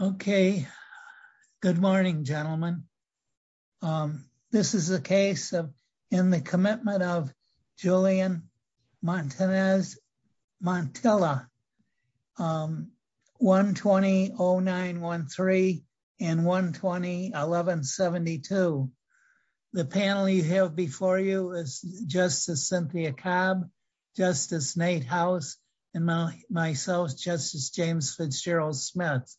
Okay. Good morning, gentlemen. This is a case of in the commitment of Julian Montanez Montella 120 oh 913 and 120 1172. The panel you have before you is justice Cynthia cab justice Nate house and my myself justice James Fitzgerald Smith.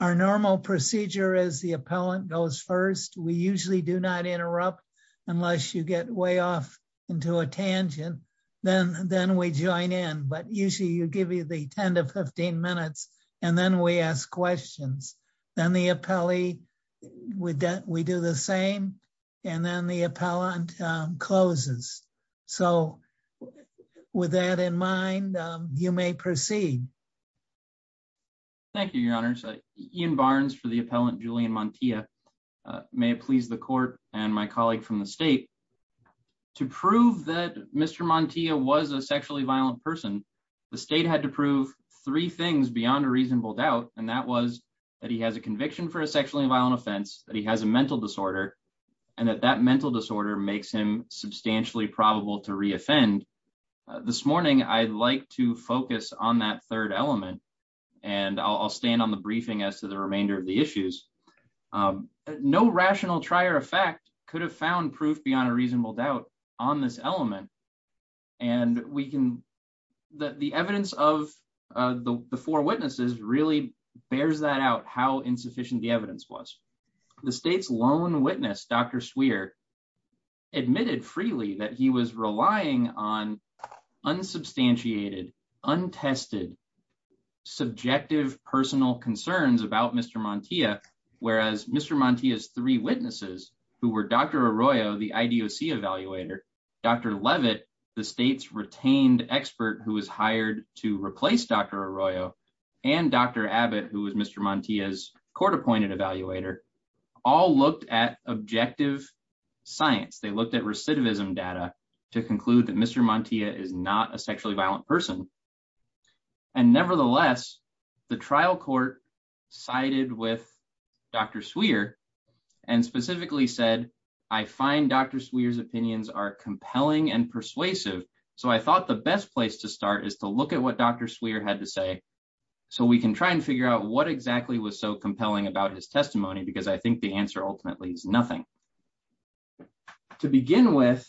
Our normal procedure is the appellant goes first we usually do not interrupt, unless you get way off into a tangent, then, then we join in but usually you give me the 10 to 15 minutes, and then we ask questions, then the appellee with that we do the same. And then the appellant closes. So, with that in mind, you may proceed. Thank you, Your Honor. Ian Barnes for the appellant Julian Montilla, may it please the court, and my colleague from the state to prove that Mr Montilla was a sexually violent person. The state had to prove three things beyond a reasonable doubt, and that was that he has a conviction for a sexually violent offense that he has a mental disorder, and that that mental disorder makes him substantially probable to reoffend. This morning I'd like to focus on that third element, and I'll stand on the briefing as to the remainder of the issues. No rational trier effect could have found proof beyond a reasonable doubt on this element. And we can that the evidence of the four witnesses really bears that out how insufficient the evidence was the state's lone witness Dr Swear admitted freely that he was relying on unsubstantiated untested subjective personal concerns about Mr. Montilla, whereas Mr Montilla is three witnesses who were Dr Arroyo the IDOC evaluator, Dr Levitt, the state's retained expert who was hired to replace Dr Arroyo and Dr Abbott who was Mr Montilla is court appointed evaluator, all looked at objective science they looked at recidivism data to conclude that Mr Montilla is not a sexually violent person. And nevertheless, the trial court sided with Dr Swear, and specifically said, I find Dr Swears opinions are compelling and persuasive. So I thought the best place to start is to look at what Dr Swear had to say. So we can try and figure out what exactly was so compelling about his testimony because I think the answer ultimately is nothing. To begin with,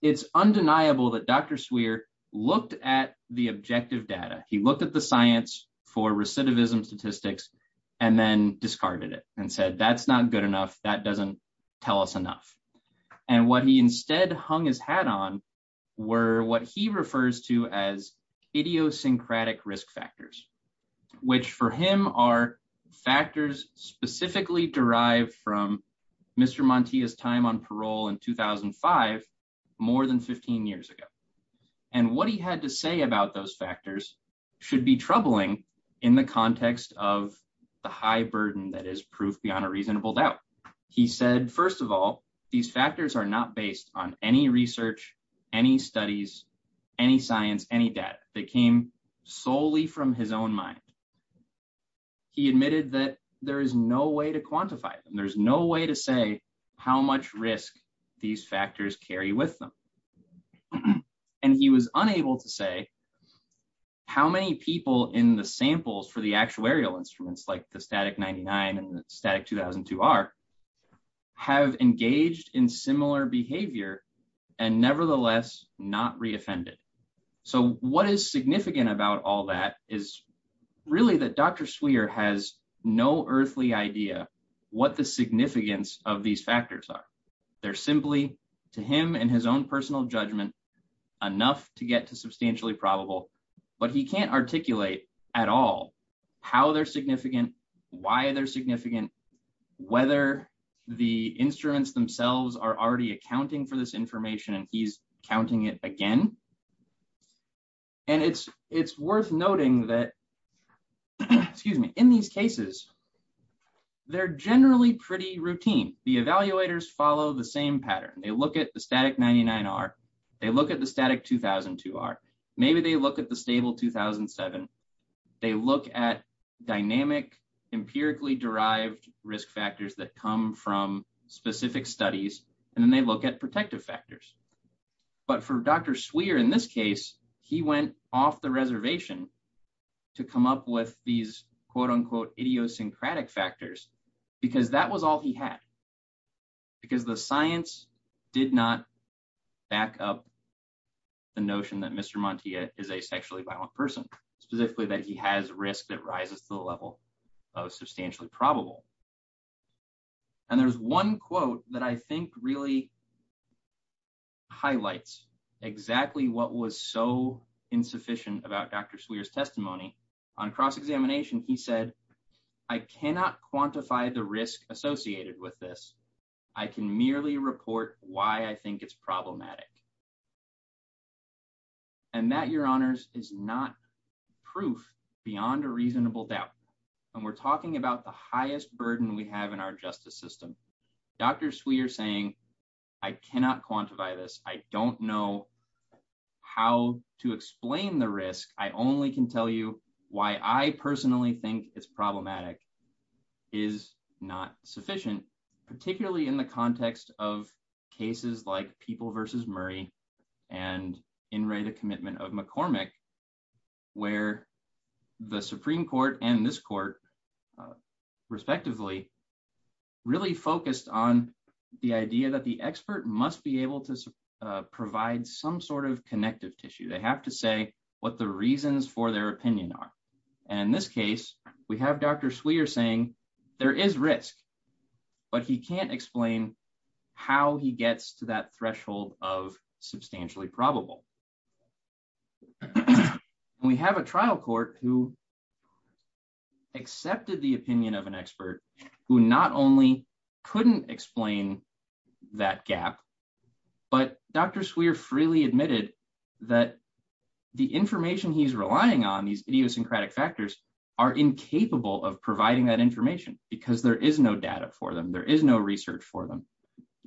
it's undeniable that Dr Swear looked at the objective data, he looked at the science for recidivism statistics, and then discarded it and said that's not good enough that doesn't tell us enough. And what he instead hung his hat on were what he refers to as idiosyncratic risk factors, which for him are factors specifically derived from Mr Montilla's time on parole in 2005, more than 15 years ago. And what he had to say about those factors should be troubling in the context of the high burden that is proof beyond a reasonable doubt. He said, first of all, these factors are not based on any research, any studies, any science, any data that came solely from his own mind. He admitted that there is no way to quantify them, there's no way to say how much risk, these factors carry with them. And he was unable to say how many people in the samples for the actuarial instruments like the static 99 and static 2002 are have engaged in similar behavior, and nevertheless, not reoffended. So what is significant about all that is really that Dr Swear has no earthly idea what the significance of these factors are. They're simply to him and his own personal judgment, enough to get to substantially probable, but he can't articulate at all, how they're significant, why they're significant, whether the instruments themselves are already accounting for this information and he's counting it again. And it's, it's worth noting that, excuse me, in these cases. They're generally pretty routine, the evaluators follow the same pattern they look at the static 99 are they look at the static 2002 are maybe they look at the stable 2007. They look at dynamic empirically derived risk factors that come from specific studies, and then they look at protective factors. But for Dr Swear in this case, he went off the reservation to come up with these quote unquote idiosyncratic factors, because that was all he had. Because the science did not back up the notion that Mr Monte is a sexually violent person, specifically that he has risk that rises to the level of substantially probable. And there's one quote that I think really highlights exactly what was so insufficient about Dr swears testimony on cross examination, he said, I cannot quantify the risk associated with this. I can merely report why I think it's problematic. And that your honors is not proof beyond a reasonable doubt. And we're talking about the highest burden we have in our justice system. Dr sweet you're saying, I cannot quantify this, I don't know how to explain the risk, I only can tell you why I personally think it's problematic is not sufficient, particularly in the context of cases like people versus Murray, and in right a commitment of McCormick, where the Supreme Court and this court, respectively. Really focused on the idea that the expert must be able to provide some sort of connective tissue they have to say what the reasons for their opinion on. And in this case, we have Dr sweet you're saying there is risk, but he can't explain how he gets to that threshold of substantially probable. We have a trial court who accepted the opinion of an expert who not only couldn't explain that gap. But Dr swear freely admitted that the information he's relying on these idiosyncratic factors are incapable of providing that information, because there is no data for them there is no research for them.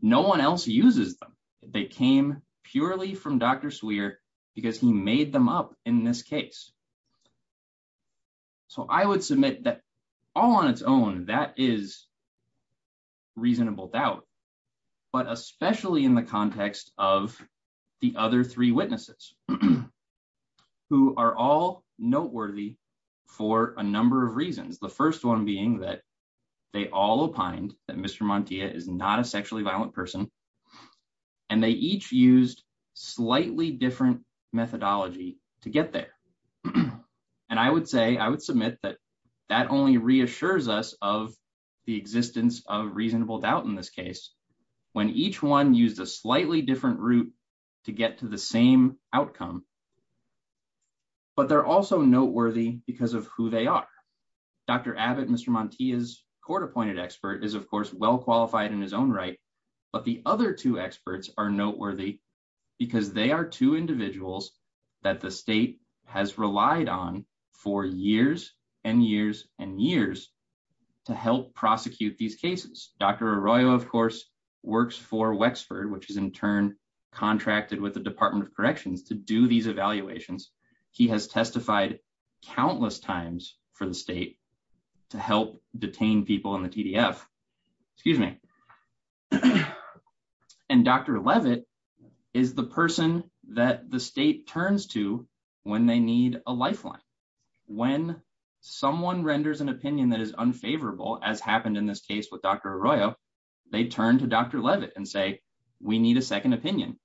No one else uses them. They came purely from Dr swear, because he made them up in this case. So I would submit that all on its own, that is reasonable doubt, but especially in the context of the other three witnesses who are all noteworthy for a number of reasons. The first one being that they all opined that Mr Monte is not a sexually violent person. And they each used slightly different methodology to get there. And I would say I would submit that that only reassures us of the existence of reasonable doubt in this case, when each one use a slightly different route to get to the same outcome. But they're also noteworthy because of who they are. Dr Abbott Mr Monte is court appointed expert is of course well qualified in his own right, but the other two experts are noteworthy, because they are two individuals that the state has relied on for years and years and years to help prosecute these cases, Dr Arroyo of course works for Wexford which is in turn, contracted with the Department of Corrections to do these evaluations. He has testified countless times for the state to help detain people in the PDF. Excuse me. And Dr Leavitt is the person that the state turns to when they need a lifeline. When someone renders an opinion that is unfavorable as happened in this case with Dr Arroyo, they turn to Dr Leavitt and say, we need a second opinion.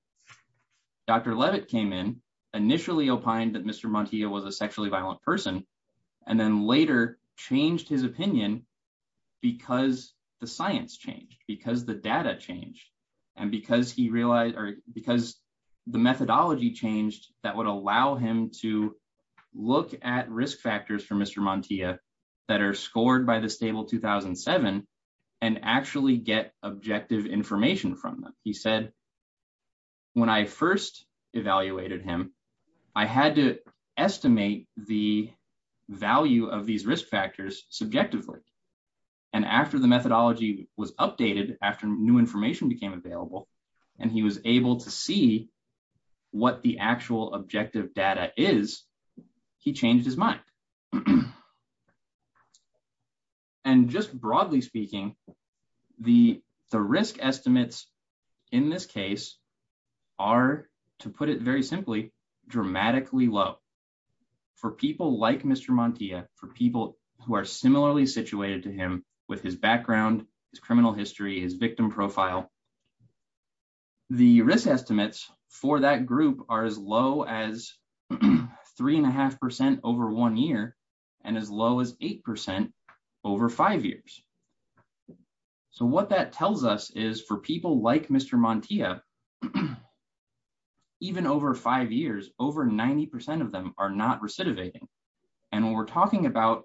Dr Leavitt came in initially opined that Mr Monte was a sexually violent person, and then later changed his opinion, because the science changed because the data changed. And because he realized or because the methodology changed that would allow him to look at risk factors for Mr Monte that are scored by the stable 2007 and actually get objective information from them, he said, when I first evaluated him. I had to estimate the value of these risk factors, subjectively. And after the methodology was updated after new information became available, and he was able to see what the actual objective data is, he changed his mind. And just broadly speaking, the, the risk estimates. In this case, are, to put it very simply, dramatically low. For people like Mr Monte, for people who are similarly situated to him with his background, his criminal history, his victim profile. The risk estimates for that group are as low as three and a half percent over one year, and as low as 8% over five years. So what that tells us is for people like Mr Monte, even over five years, over 90% of them are not recidivating. And when we're talking about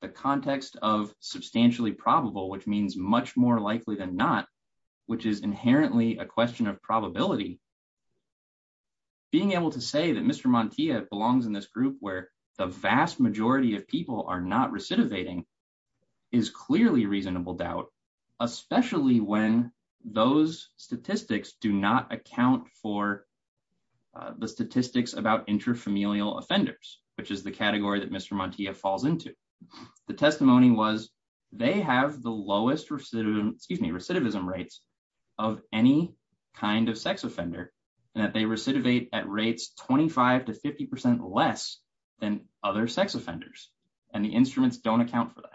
the context of substantially probable which means much more likely than not, which is inherently a question of probability. Being able to say that Mr Monte belongs in this group where the vast majority of people are not recidivating is clearly reasonable doubt, especially when those statistics do not account for the statistics about intrafamilial offenders, which is the category that Mr Monte falls into the testimony was, they have the lowest recidivism, excuse me recidivism rates of any kind of sex offender, and that they recidivate at rates 25 to 50% less than other sex offenders, and the instruments don't account for that.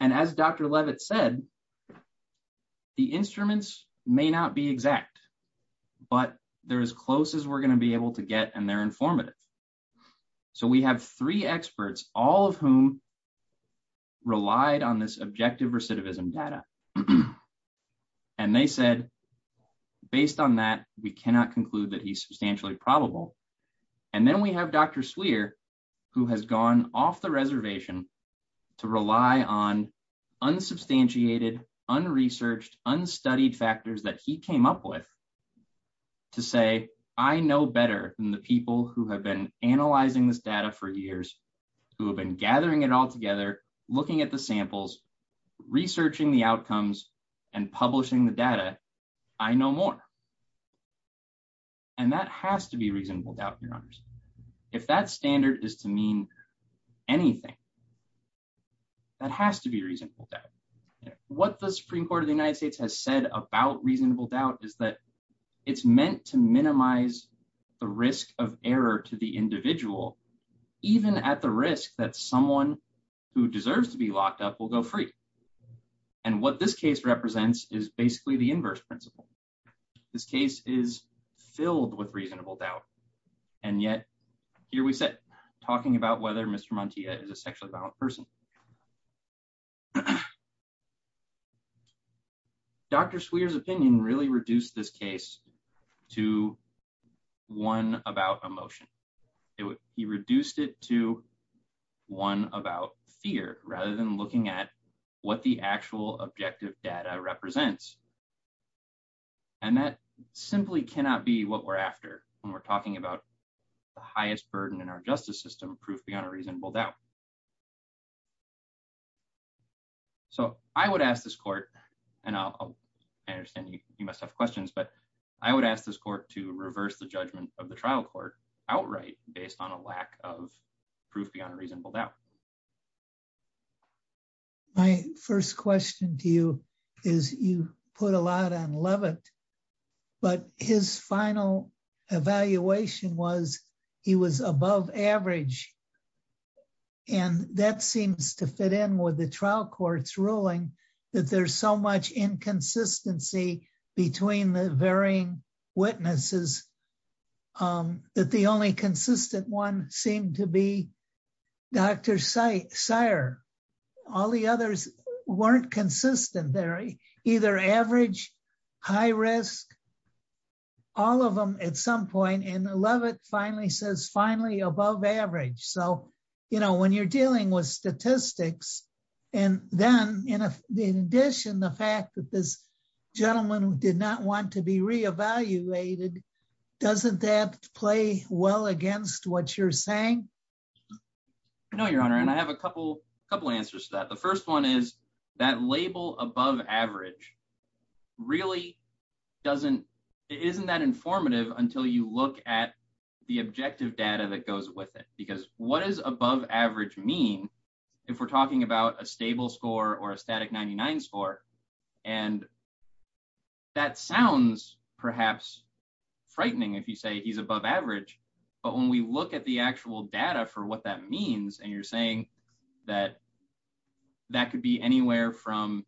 And as Dr Levitt said, the instruments may not be exact, but they're as close as we're going to be able to get and they're informative. So we have three experts, all of whom relied on this objective recidivism data. And they said, based on that, we cannot conclude that he's substantially probable. And then we have Dr Swear, who has gone off the reservation to rely on unsubstantiated unresearched unstudied factors that he came up with to say, I know better than the people who have been analyzing this data for years, who have been gathering it all together, looking at the samples, researching the outcomes, and publishing the data. I know more. And that has to be reasonable doubt. If that standard is to mean anything that has to be reasonable. What the Supreme Court of the United States has said about reasonable doubt is that it's meant to minimize the risk of error to the individual, even at the risk that someone who deserves to be locked up will go free. And what this case represents is basically the inverse principle. This case is filled with reasonable doubt. And yet, here we sit, talking about whether Mr Monte is a sexually violent person. Dr swears opinion really reduced this case to one about emotion. It would be reduced it to one about fear, rather than looking at what the actual objective data represents. And that simply cannot be what we're after when we're talking about the highest burden in our justice system proof beyond a reasonable doubt. So, I would ask this court, and I understand you, you must have questions but I would ask this court to reverse the judgment of the trial court outright, based on a lack of proof beyond reasonable doubt. My first question to you is, you put a lot on Leavitt, but his final evaluation was, he was above average. And that seems to fit in with the trial courts ruling that there's so much inconsistency between the varying witnesses that the only consistent one seemed to be. Dr. Seier, all the others weren't consistent. They're either average, high risk, all of them at some point and Leavitt finally says finally above average. So, you know, when you're dealing with statistics. And then, in addition, the fact that this gentleman did not want to be reevaluated. Doesn't that play well against what you're saying. No, Your Honor, and I have a couple, couple answers to that. The first one is that label above average really doesn't isn't that informative until you look at the objective data that goes with it, because what is above average mean if we're talking about a stable data for what that means and you're saying that that could be anywhere from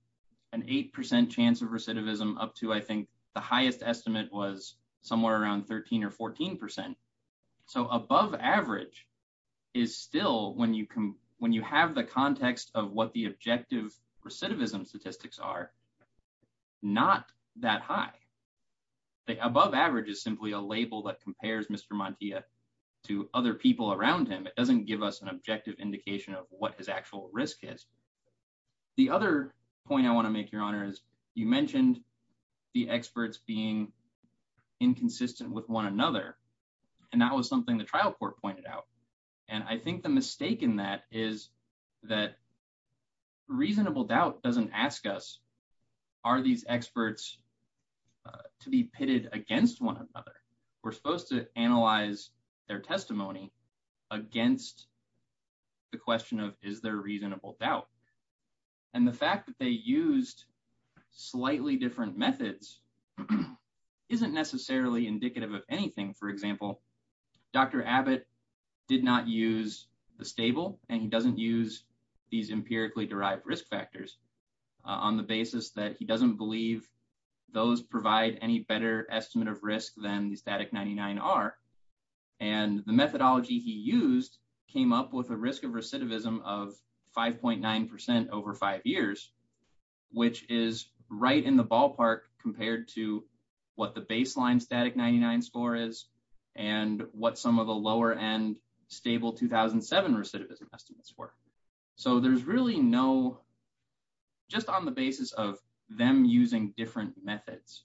an 8% chance of recidivism up to I think the highest estimate was somewhere around 13 or 14%. So above average is still when you can, when you have the context of what the objective recidivism statistics are not that high. The above average is simply a label that compares Mr. Montia to other people around him it doesn't give us an objective indication of what his actual risk is. The other point I want to make Your Honor is, you mentioned the experts being inconsistent with one another. And that was something the trial court pointed out. And I think the mistake in that is that reasonable doubt doesn't ask us, are these experts to be pitted against one another. We're supposed to analyze their testimony against the question of, is there a reasonable doubt. And the fact that they used slightly different methods isn't necessarily indicative of anything. For example, Dr. Abbott did not use the stable, and he doesn't use these empirically derived risk factors on the basis that he doesn't believe those provide any better estimate of risk than the static 99 are. And the methodology he used came up with a risk of recidivism of 5.9% over five years, which is right in the ballpark compared to what the baseline static 99 score is, and what some of the lower end stable 2007 recidivism estimates were. So there's really no just on the basis of them using different methods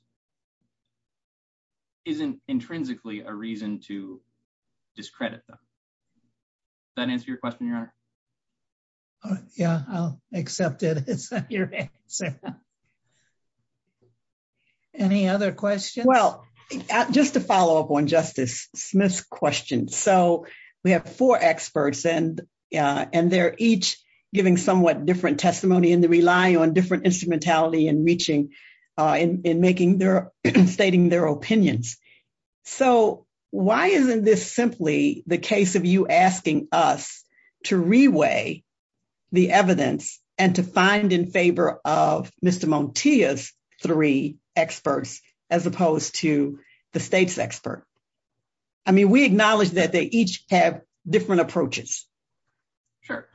isn't intrinsically a reason to discredit them. That answer your question, Your Honor. Yeah, I'll accept it. Any other questions. Well, just to follow up on Justice Smith's question. So, we have four experts and, and they're each giving somewhat different testimony in the rely on different instrumentality and reaching in making their stating their opinions. So, why isn't this simply the case of you asking us to reweigh the evidence, and to find in favor of Mr. Montoya's three experts, as opposed to the state's expert. I mean we acknowledge that they each have different approaches. Sure.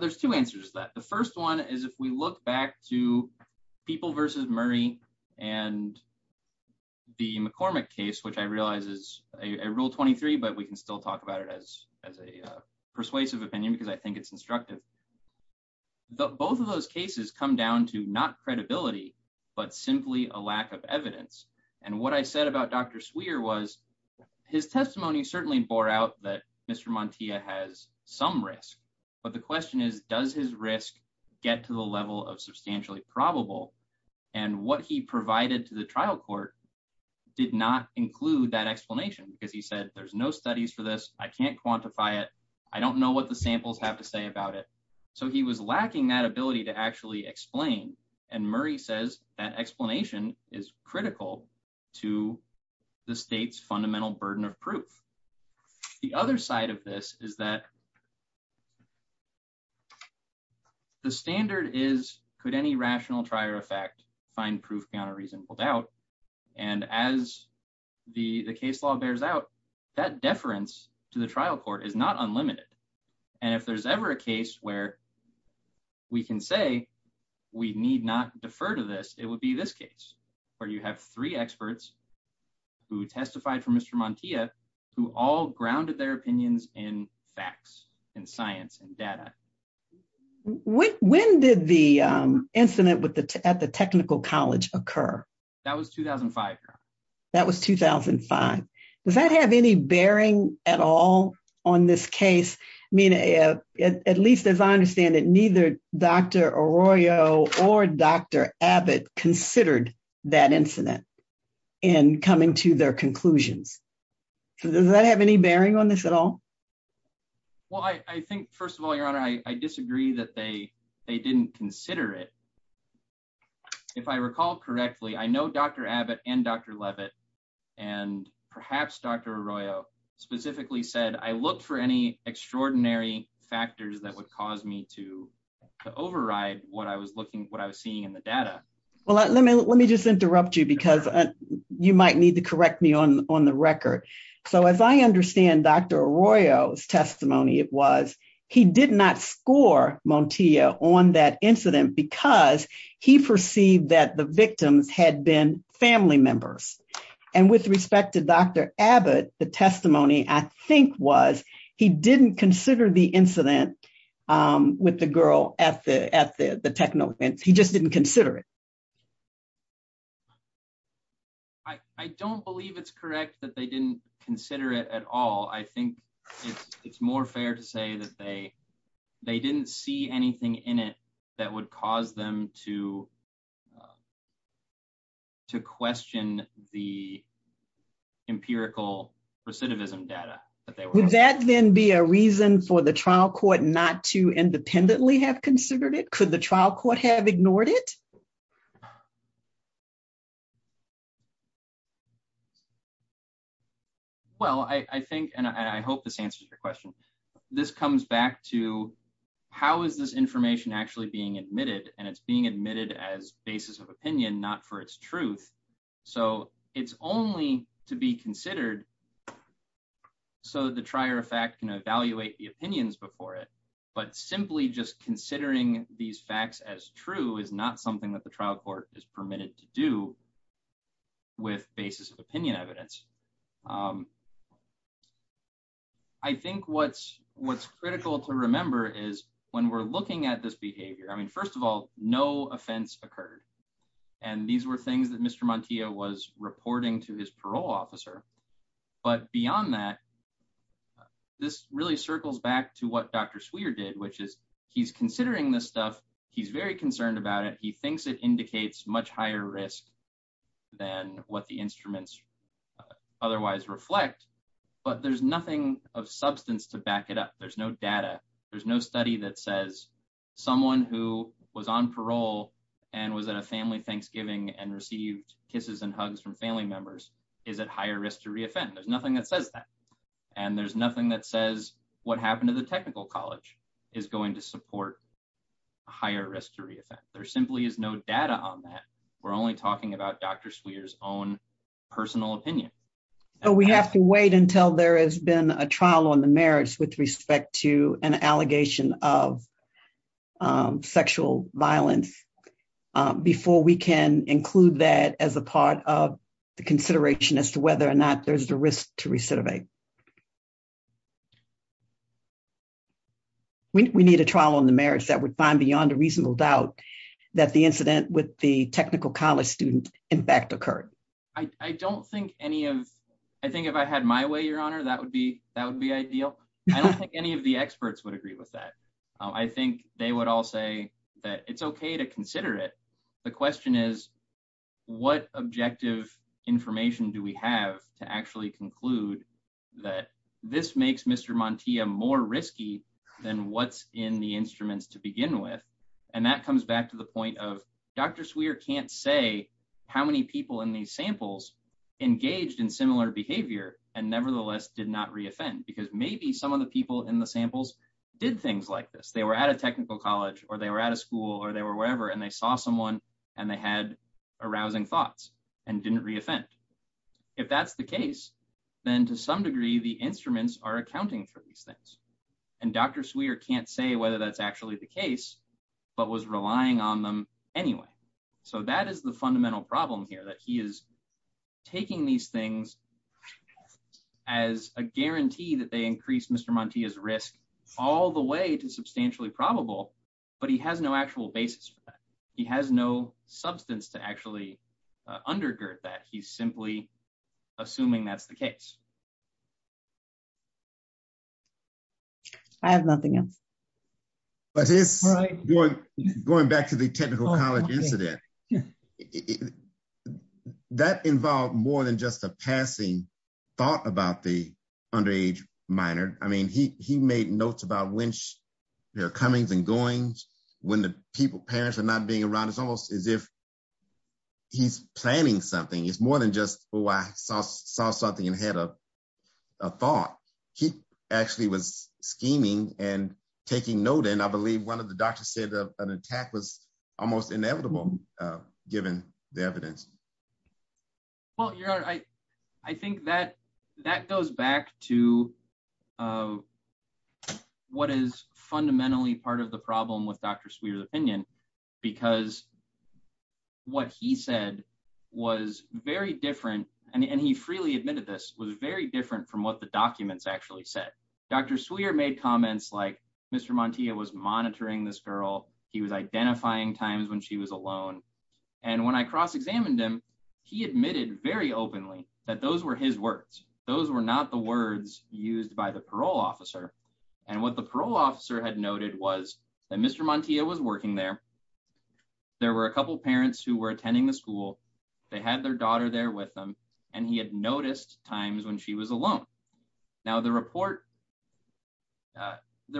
There's two answers that the first one is if we look back to people versus Murray, and the McCormick case which I realize is a rule 23 but we can still talk about it as, as a persuasive opinion because I think it's instructive. The both of those cases come down to not credibility, but simply a lack of evidence. And what I said about Dr Swear was his testimony certainly bore out that Mr Montoya has some risk. But the question is, does his risk, get to the level of substantially probable, and what he provided to the trial court did not include that explanation because he said there's no studies for this, I can't quantify it. I don't know what the samples have to say about it. So he was lacking that ability to actually explain and Murray says that explanation is critical to the state's fundamental burden of proof. The other side of this is that the standard is, could any rational try or effect, find proof beyond a reasonable doubt. And as the the case law bears out that deference to the trial court is not unlimited. And if there's ever a case where we can say we need not defer to this, it would be this case where you have three experts who testified for Mr Montoya, who all grounded their opinions in facts and science and data. When did the incident with the at the Technical College occur. That was 2005. That was 2005. Does that have any bearing at all on this case. I mean, at least as I understand it neither Dr. Arroyo or Dr. Abbott considered that incident in coming to their conclusions. Does that have any bearing on this at all. Well, I think, first of all, Your Honor, I disagree that they, they didn't consider it. If I recall correctly, I know Dr. Abbott and Dr. Levitt and perhaps Dr. Arroyo specifically said I looked for any extraordinary factors that would cause me to override what I was looking what I was seeing in the data. Well, let me let me just interrupt you because you might need to correct me on on the record. So as I understand Dr. Arroyo's testimony, it was, he did not score Montoya on that incident because he perceived that the victims had been family members. And with respect to Dr. Abbott, the testimony, I think was, he didn't consider the incident with the girl at the at the technical and he just didn't consider it. I don't believe it's correct that they didn't consider it at all. I think it's more fair to say that they, they didn't see anything in it, that would cause them to to question the empirical recidivism data that they would that then be a reason for the trial court not to independently have considered it could the trial court have ignored it. Well, I think, and I hope this answers your question. This comes back to how is this information actually being admitted and it's being admitted as basis of opinion not for its truth. So, it's only to be considered. So the trier of fact can evaluate the opinions before it, but simply just considering these facts as true is not something that the trial court is permitted to do with basis of opinion evidence. I think what's, what's critical to remember is when we're looking at this behavior I mean first of all, no offense occurred. And these were things that Mr. Montia was reporting to his parole officer. But beyond that, this really circles back to what Dr. Swear did which is he's considering this stuff. He's very concerned about it he thinks it indicates much higher risk than what the instruments. Otherwise reflect, but there's nothing of substance to back it up there's no data. There's no study that says someone who was on parole and was at a family Thanksgiving and received kisses and hugs from family members is at higher risk to reoffend there's nothing that says that. And there's nothing that says what happened to the technical college is going to support higher risk to reoffend there simply is no data on that. We're only talking about Dr. Swear's own personal opinion. We have to wait until there has been a trial on the merits with respect to an allegation of sexual violence. Before we can include that as a part of the consideration as to whether or not there's the risk to recidivate. We need a trial on the merits that would find beyond a reasonable doubt that the incident with the technical college student, in fact occurred. I don't think any of. I think if I had my way your honor that would be, that would be ideal. I don't think any of the experts would agree with that. I think they would all say that it's okay to consider it. The question is, what objective information do we have to actually conclude that this makes Mr. Montia more risky than what's in the instruments to begin with. And that comes back to the point of Dr. Swear can't say how many people in these samples engaged in similar behavior, and nevertheless did not reoffend because maybe some of the people in the samples did things like this they were at a technical college, or they were at a school or they were wherever and they saw someone, and they had arousing thoughts and didn't reoffend. If that's the case, then to some degree the instruments are accounting for these things. And Dr. Swear can't say whether that's actually the case, but was relying on them anyway. So that is the fundamental problem here that he is taking these things as a guarantee that they increase Mr. Montia's risk, all the way to substantially probable, but he has no actual basis for that. He has no substance to actually undergird that. He's simply assuming that's the case. I have nothing else. But it's going back to the technical college incident. That involved more than just a passing thought about the underage minor. I mean, he made notes about when there are comings and goings, when the parents are not being around. It's almost as if he's planning something. It's more than just, oh, I saw something and had a thought. He actually was scheming and taking note, and I believe one of the doctors said an attack was almost inevitable, given the evidence. Well, I think that goes back to what is fundamentally part of the problem with Dr. Swear's opinion, because what he said was very different, and he freely admitted this, was very different from what the documents actually said. Dr. Swear made comments like Mr. Montia was monitoring this girl. He was identifying times when she was alone. And when I cross-examined him, he admitted very openly that those were his words. Those were not the words used by the parole officer. And what the parole officer had noted was that Mr. Montia was working there. There were a couple parents who were attending the school. They had their daughter there with them, and he had noticed times when she was alone. There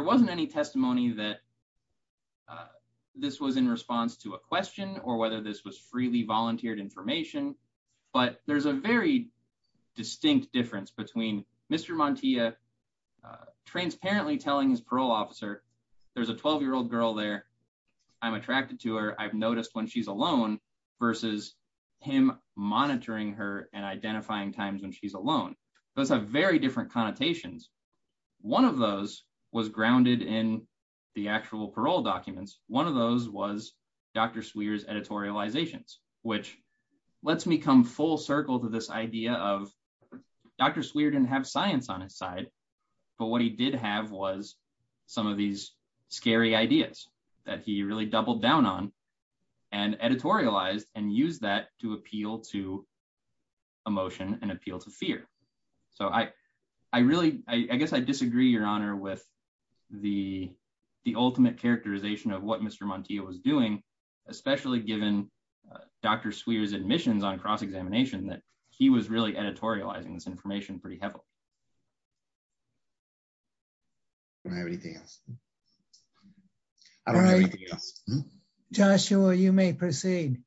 wasn't any testimony that this was in response to a question or whether this was freely volunteered information, but there's a very distinct difference between Mr. Montia transparently telling his parole officer, there's a 12-year-old girl there, I'm attracted to her, I've noticed when she's alone, versus him monitoring her and identifying times when she's alone. Those have very different connotations. One of those was grounded in the actual parole documents. One of those was Dr. Swear's editorializations, which lets me come full circle to this idea of Dr. Swear didn't have science on his side, but what he did have was some of these scary ideas that he really doubled down on and editorialized and used that to appeal to emotion and appeal to fear. So I really, I guess I disagree, Your Honor, with the ultimate characterization of what Mr. Montia was doing, especially given Dr. Swear's admissions on cross-examination that he was really editorializing this information pretty heavily. I don't have anything else. Joshua, you may proceed.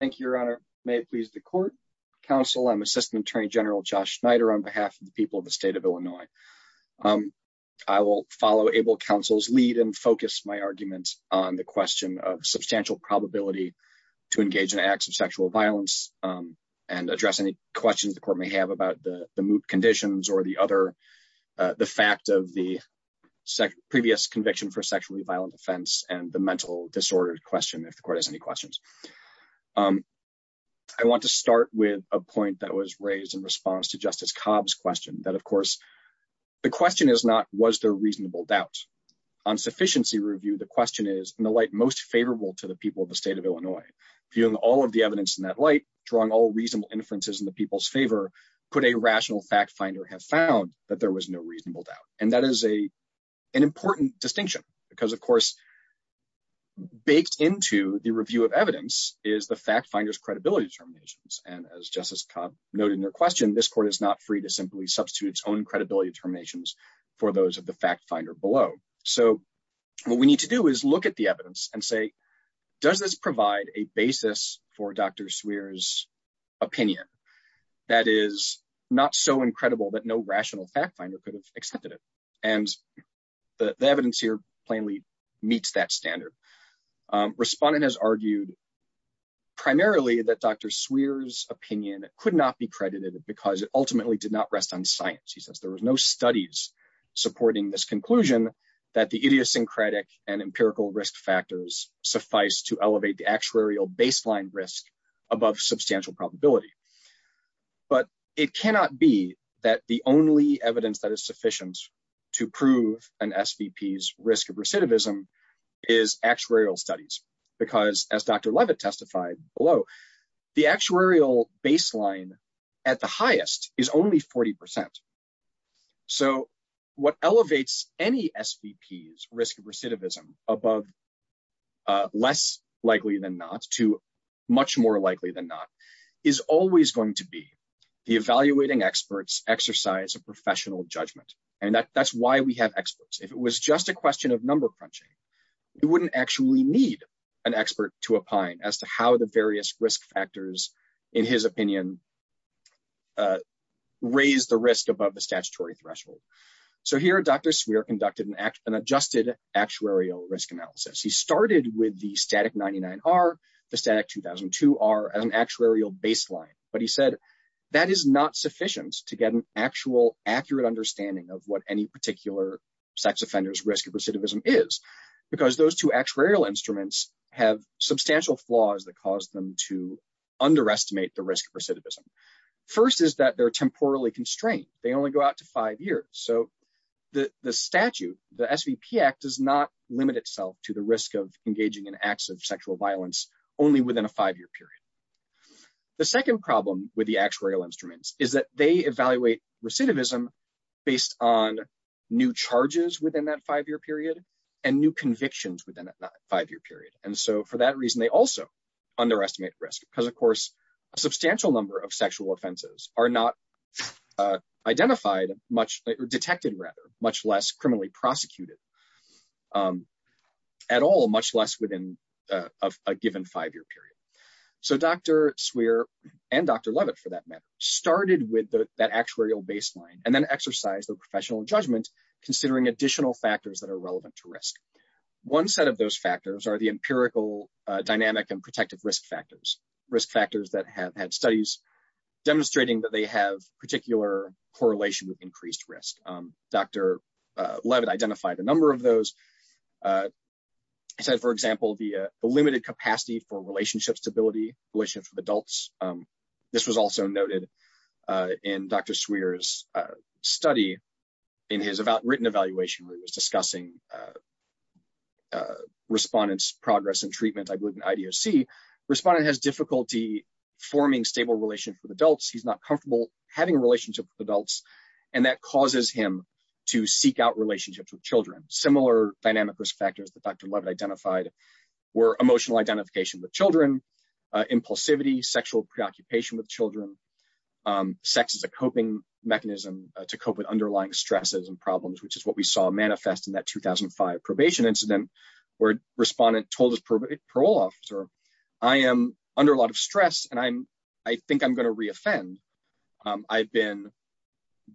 Thank you, Your Honor. May it please the court, counsel, I'm Assistant Attorney General Josh Schneider on behalf of the people of the state of Illinois. I will follow able counsel's lead and focus my arguments on the question of substantial probability to engage in acts of sexual violence and address any questions the court may have about the conditions or the other. The fact of the previous conviction for sexually violent offense and the mental disorder question if the court has any questions. I want to start with a point that was raised in response to Justice Cobb's question that, of course, the question is not was there reasonable doubt. On sufficiency review, the question is, in the light most favorable to the people of the state of Illinois, viewing all of the evidence in that light, drawing all reasonable inferences in the people's favor, could a rational fact finder have found that there was no reasonable doubt. And that is a, an important distinction, because of course, baked into the review of evidence is the fact finders credibility determinations and as Justice Cobb noted in her question, this court is not free to simply substitute its own credibility determinations for those of the fact finder below. So what we need to do is look at the evidence and say, does this provide a basis for Dr swears opinion that is not so incredible that no rational fact finder could have accepted it, and the evidence here plainly meets that standard respondent has argued. Primarily that Dr swears opinion could not be credited because it ultimately did not rest on science, he says there was no studies, supporting this conclusion that the idiosyncratic and empirical risk factors suffice to elevate the actuarial baseline risk above substantial probability. But it cannot be that the only evidence that is sufficient to prove an SVP is risk of recidivism is actuarial studies, because as Dr Levitt testified below the actuarial baseline at the highest is only 40%. So, what elevates any SVP is risk of recidivism above less likely than not too much more likely than not, is always going to be the evaluating experts exercise a professional judgment, and that that's why we have experts if it was just a question of number It wouldn't actually need an expert to opine as to how the various risk factors, in his opinion, raise the risk above the statutory threshold. So here Dr Swear conducted an act and adjusted actuarial risk analysis he started with the static 99 are the static 2002 are an actuarial baseline, but he said that is not sufficient to get an actual accurate understanding of what any particular sex offenders risk of recidivism is because those two actuarial instruments have substantial flaws that caused them to underestimate the risk of recidivism. First is that they're temporarily constrained, they only go out to five years, so the statute, the SVP act does not limit itself to the risk of engaging in acts of sexual violence, only within a five year period. The second problem with the actuarial instruments, is that they evaluate recidivism, based on new charges within that five year period, and new convictions within that five year period, and so for that reason they also underestimate risk because of course, a substantial number of sexual offenses are not identified much detected rather much less criminally prosecuted at all, much less within a given five year period. So Dr Swear, and Dr Leavitt for that matter, started with that actuarial baseline and then exercise the professional judgment, considering additional factors that are relevant to risk. One set of those factors are the empirical dynamic and protective risk factors, risk factors that have had studies, demonstrating that they have particular correlation with increased risk, Dr. Leavitt identified a number of those. For example, the limited capacity for relationship stability, relationships with adults. This was also noted in Dr. Swear's study in his written evaluation where he was discussing respondents progress and treatment, I believe in IDOC, respondent has difficulty forming stable relations with adults, he's not comfortable having a relationship with adults, and that causes him to seek out relationships with children, similar dynamic risk factors that Dr Leavitt identified were emotional identification with children, impulsivity, sexual preoccupation with children. Sex is a coping mechanism to cope with underlying stresses and problems which is what we saw manifest in that 2005 probation incident where respondent told his parole officer, I am under a lot of stress and I'm, I think I'm going to reoffend. I've been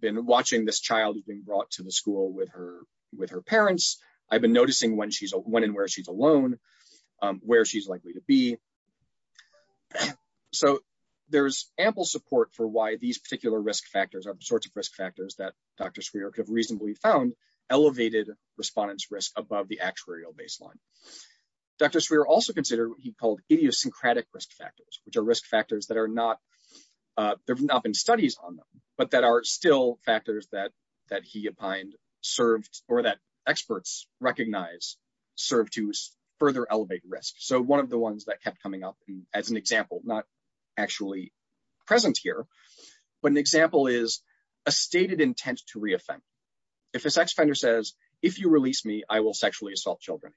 been watching this child who's been brought to the school with her, with her parents. I've been noticing when she's when and where she's alone, where she's likely to be. So, there's ample support for why these particular risk factors are the sorts of risk factors that Dr. Swear could have reasonably found elevated respondents risk above the actuarial baseline. Dr. Swear also considered what he called idiosyncratic risk factors, which are risk factors that are not. There's not been studies on them, but that are still factors that that he opined served or that experts recognize serve to further elevate risk so one of the ones that kept coming up as an example, not actually present here. But an example is a stated intent to reoffend. If a sex offender says, if you release me I will sexually assault children.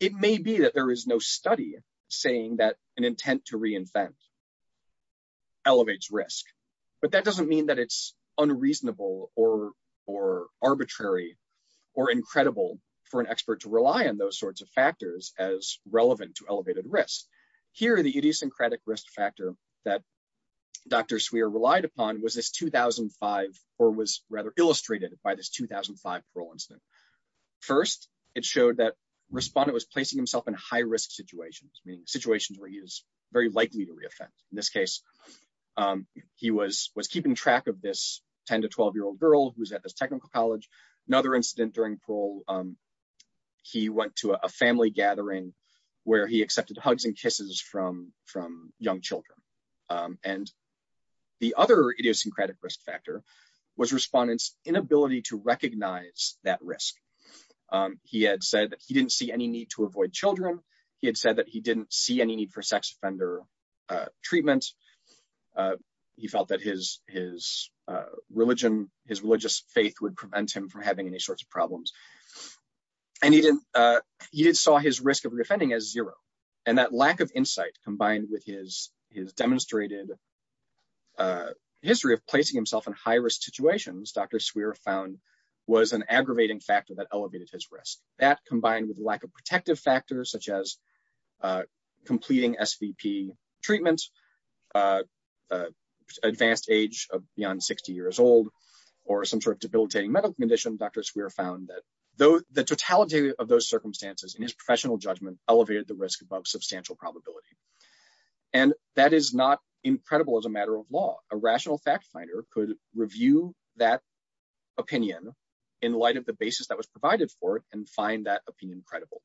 It may be that there is no study, saying that an intent to reinvent elevates risk, but that doesn't mean that it's unreasonable or or arbitrary or incredible for an expert to rely on those sorts of factors as relevant to elevated risk. Here are the idiosyncratic risk factor that Dr. Swear relied upon was this 2005, or was rather illustrated by this 2005 parole incident. First, it showed that respondent was placing himself in high risk situations meaning situations where he is very likely to reoffend. In this case, he was was keeping track of this 10 to 12 year old girl who's at this technical college. Another incident during parole. He went to a family gathering, where he accepted hugs and kisses from from young children. And the other idiosyncratic risk factor was respondents inability to recognize that risk. He had said that he didn't see any need to avoid children. He had said that he didn't see any need for sex offender treatment. He felt that his, his religion, his religious faith would prevent him from having any sorts of problems. And he didn't. He saw his risk of defending as zero. And that lack of insight, combined with his, his demonstrated history of placing himself in high risk situations Dr Swear found was an aggravating factor that elevated his risk that combined with lack of advanced age of beyond 60 years old, or some sort of debilitating medical condition Dr Swear found that though the totality of those circumstances and his professional judgment elevated the risk above substantial probability. And that is not incredible as a matter of law, a rational fact finder could review that opinion. In light of the basis that was provided for it and find that opinion credible.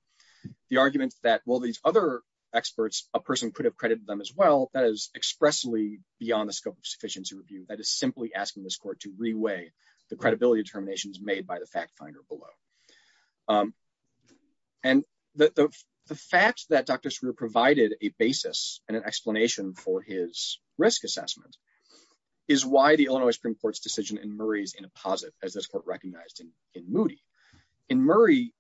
The argument that will these other experts, a person could have credited them as well that is expressly beyond the scope of sufficiency review that is simply asking this court to reweigh the credibility determinations made by the fact finder below. And the fact that Dr Swear provided a basis and an explanation for his risk assessment is why the Illinois Supreme Court's decision in Murray's in a posit as this court recognizing in Moody in Murray.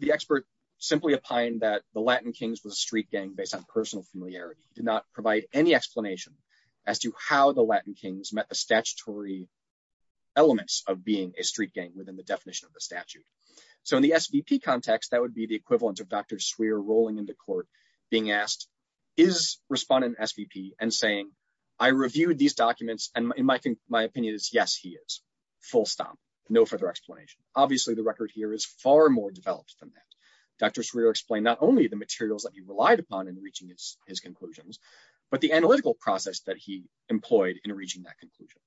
The, the expert, simply opined that the Latin kings was a street gang based on personal familiarity did not provide any explanation as to how the Latin kings met the statutory elements of being a street gang within the definition of the statute. So in the SVP context that would be the equivalent of Dr Swear rolling into court, being asked is respondent SVP and saying, I reviewed these documents, and in my opinion, my opinion is yes he is full stop. No further explanation, obviously the record here is far more developed than that. Dr Swear explained not only the materials that you relied upon and reaching his, his conclusions, but the analytical process that he employed in reaching that conclusion.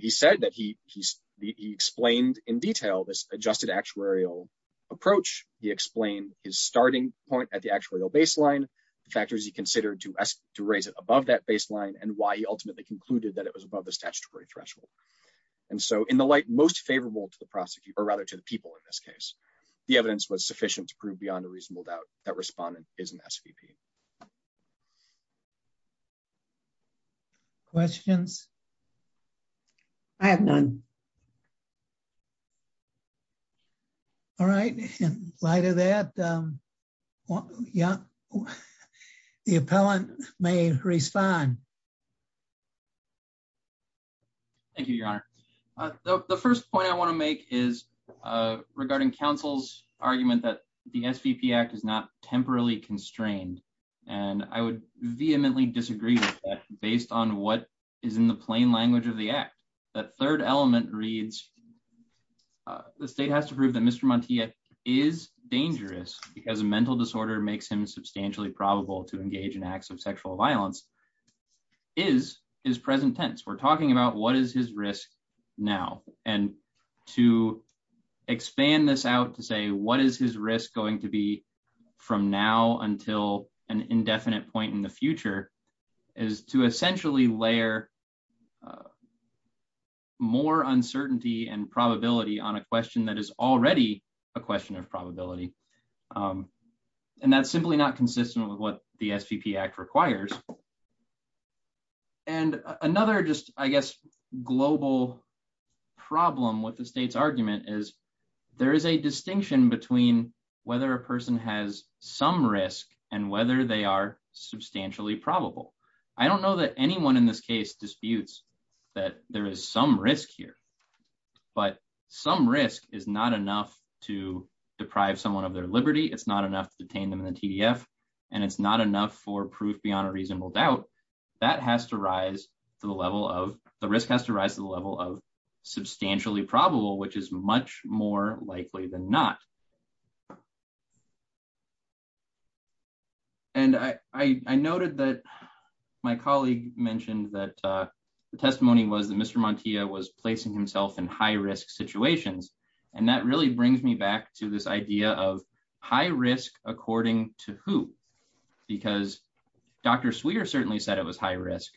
He said that he he's the explained in detail this adjusted actuarial approach, he explained his starting point at the actual baseline factors he considered to us to raise it above that baseline and why he ultimately concluded that it was above the statutory threshold. And so in the light most favorable to the prosecutor rather to the people in this case, the evidence was sufficient to prove beyond a reasonable doubt that respondent is an SVP questions. I have none. All right. Light of that. Yeah. Thank you, Your Honor. The first point I want to make is regarding counsel's argument that the SVP act is not temporarily constrained, and I would vehemently disagree with that, based on what is in the plain language of the act. That third element reads. The state has to prove that Mr. Montoya is dangerous, because a mental disorder makes him substantially probable to engage in acts of sexual violence is his present tense we're talking about what is his risk. Now, and to expand this out to say what is his risk going to be from now until an indefinite point in the future is to essentially layer. More uncertainty and probability on a question that is already a question of probability. And that's simply not consistent with what the SVP act requires. And another just, I guess, global problem with the state's argument is there is a distinction between whether a person has some risk, and whether they are substantially probable. I don't know that anyone in this case disputes that there is some risk here. But some risk is not enough to deprive someone of their liberty it's not enough to detain them in the TDF, and it's not enough for proof beyond a reasonable doubt that has to rise to the level of the risk has to rise to the level of substantially probable which is much more likely than not. And I noted that my colleague mentioned that the testimony was the Mr Monte was placing himself in high risk situations. And that really brings me back to this idea of high risk, according to who, because Dr sweeter certainly said it was high risk.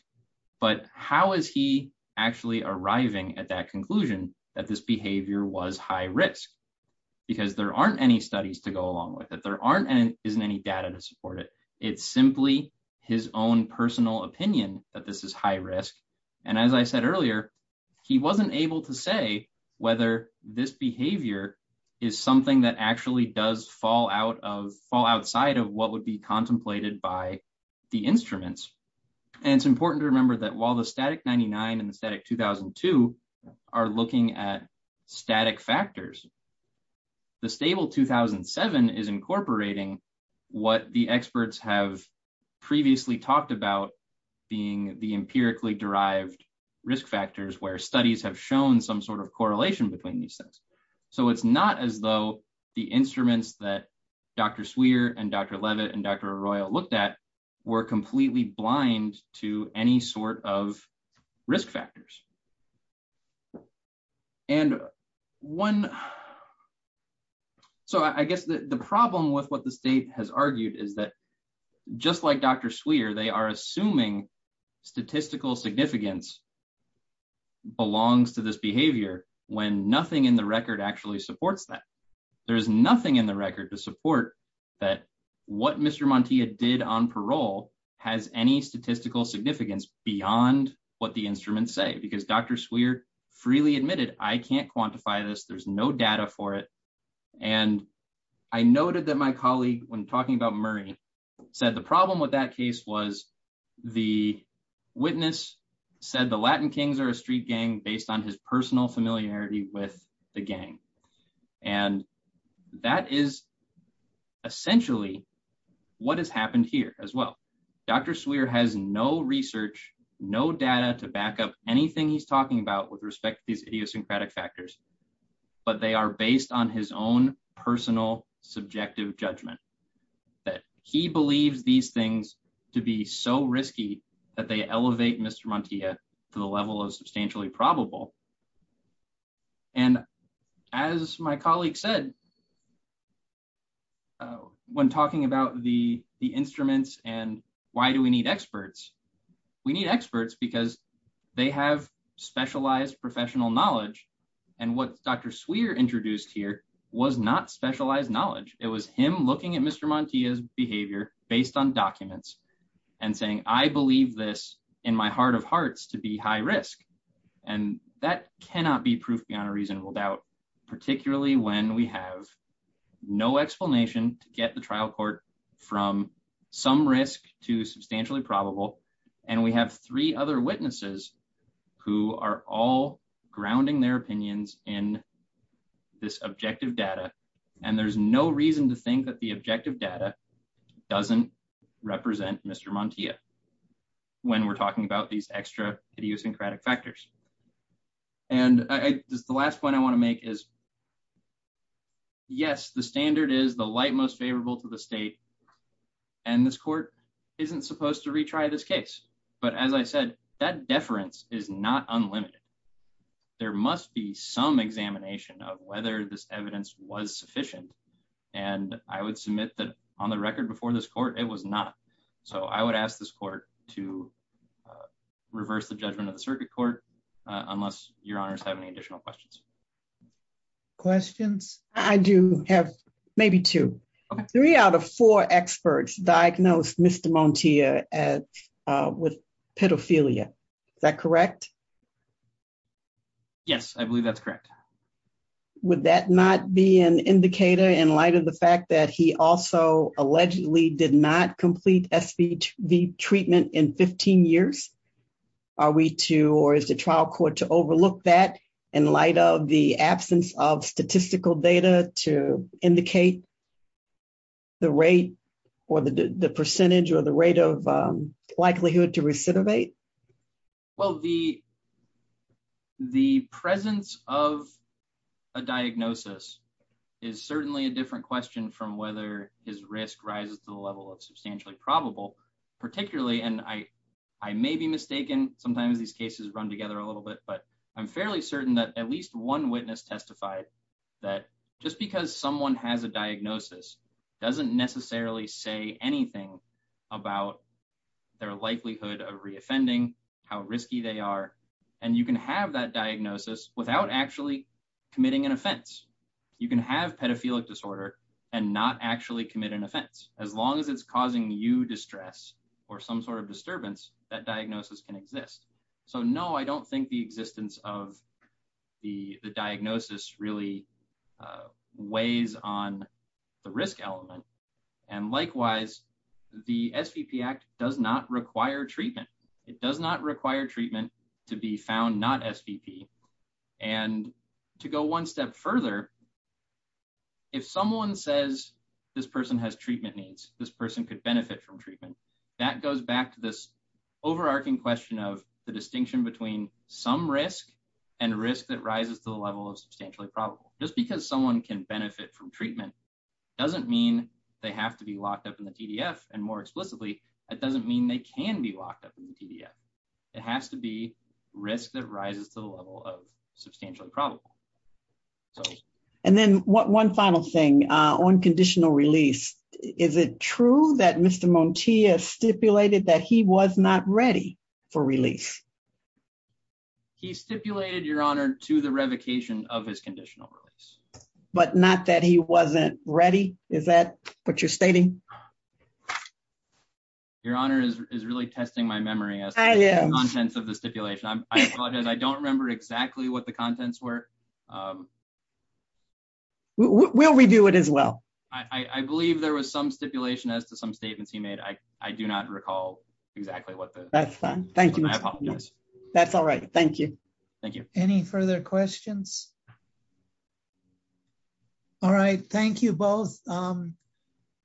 But how is he actually arriving at that conclusion that this behavior was high risk, because there aren't any studies to go along with it there aren't any isn't any data to support it. It's simply his own personal opinion that this is high risk. And as I said earlier, he wasn't able to say whether this behavior is something that actually does fall out of fall outside of what would be contemplated by the instruments. And it's important to remember that while the static 99 and the static 2002 are looking at static factors. The stable 2007 is incorporating what the experts have previously talked about being the empirically derived risk factors where studies have shown some sort of correlation between these things. So it's not as though the instruments that Dr sweeter and Dr Leavitt and Dr Royal looked at were completely blind to any sort of risk factors. And one. So I guess the problem with what the state has argued is that, just like Dr sweeter they are assuming statistical significance belongs to this behavior, when nothing in the record actually supports that there is nothing in the record to support that what Mr Montoya did on parole has any statistical significance beyond what the instruments say because Dr swear freely admitted I can't quantify this there's no data for it. And I noted that my colleague when talking about Murray said the problem with that case was the witness said the Latin kings are a street gang based on his personal familiarity with the gang. And that is essentially what has happened here as well. Dr swear has no research, no data to back up anything he's talking about with respect to these idiosyncratic factors, but they are based on his own personal subjective judgment that he believes these things to be so risky that they elevate Mr Montoya to the level of substantially probable. And as my colleague said, when talking about the, the instruments, and why do we need experts. We need experts because they have specialized professional knowledge, and what Dr swear introduced here was not specialized knowledge, it was him looking at Mr Montoya behavior, based on documents and saying, I believe this in my heart of hearts to be And we have three other witnesses who are all grounding their opinions in this objective data. And there's no reason to think that the objective data doesn't represent Mr Montoya. When we're talking about these extra idiosyncratic factors. And the last one I want to make is. Yes, the standard is the light most favorable to the state. And this court isn't supposed to retry this case. But as I said, that deference is not unlimited. There must be some examination of whether this evidence was sufficient. And I would submit that on the record before this court, it was not. So I would ask this court to reverse the judgment of the circuit court, unless your honors have any additional questions. Questions, I do have maybe two, three out of four experts diagnosed Mr Montoya at with pedophilia. Is that correct. Yes, I believe that's correct. Would that not be an indicator in light of the fact that he also allegedly did not complete SVV treatment in 15 years. Are we to or is the trial court to overlook that in light of the absence of statistical data to indicate the rate or the percentage or the rate of likelihood to recidivate. Well, the, the presence of a diagnosis is certainly a different question from whether his risk rises to the level of substantially probable, particularly and I, I may be mistaken, sometimes these cases run together a little bit but I'm fairly certain that at least one witness testified that just because someone has a diagnosis doesn't necessarily say anything about their likelihood of reoffending how risky they are. And you can have that diagnosis, without actually committing an offense. You can have pedophilic disorder and not actually commit an offense, as long as it's causing you distress or some sort of disturbance that diagnosis can exist. So no I don't think the existence of the diagnosis really weighs on the risk element. And likewise, the SVP act does not require treatment. It does not require treatment to be found not SVP. And to go one step further, if someone says, this person has treatment needs, this person could benefit from treatment that goes back to this overarching question of the distinction between some risk and risk that rises to the level of substantially probable, just because someone can benefit from treatment doesn't mean they have to be locked up in the PDF, and more explicitly, it doesn't mean they can be locked up in the PDF. It has to be risk that rises to the level of substantially probable. And then what one final thing on conditional release. Is it true that Mr. Monty is stipulated that he was not ready for release. He stipulated Your Honor to the revocation of his conditional release, but not that he wasn't ready. Is that what you're stating. Your Honor is really testing my memory. I am intense of the stipulation I apologize I don't remember exactly what the contents were. We'll redo it as well. I believe there was some stipulation as to some statements he made I, I do not recall exactly what that's fine. Thank you. That's all right. Thank you. Thank you. Any further questions. All right, thank you both.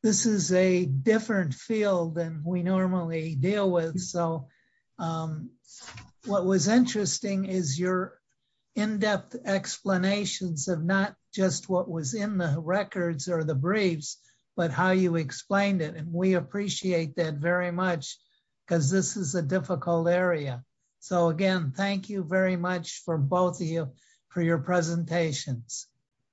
This is a different field than we normally deal with. So, what was interesting is your in depth explanations of not just what was in the records or the briefs, but how you explained it and we appreciate that very much, because this is a difficult area. So again, thank you very much for both of you for your presentations.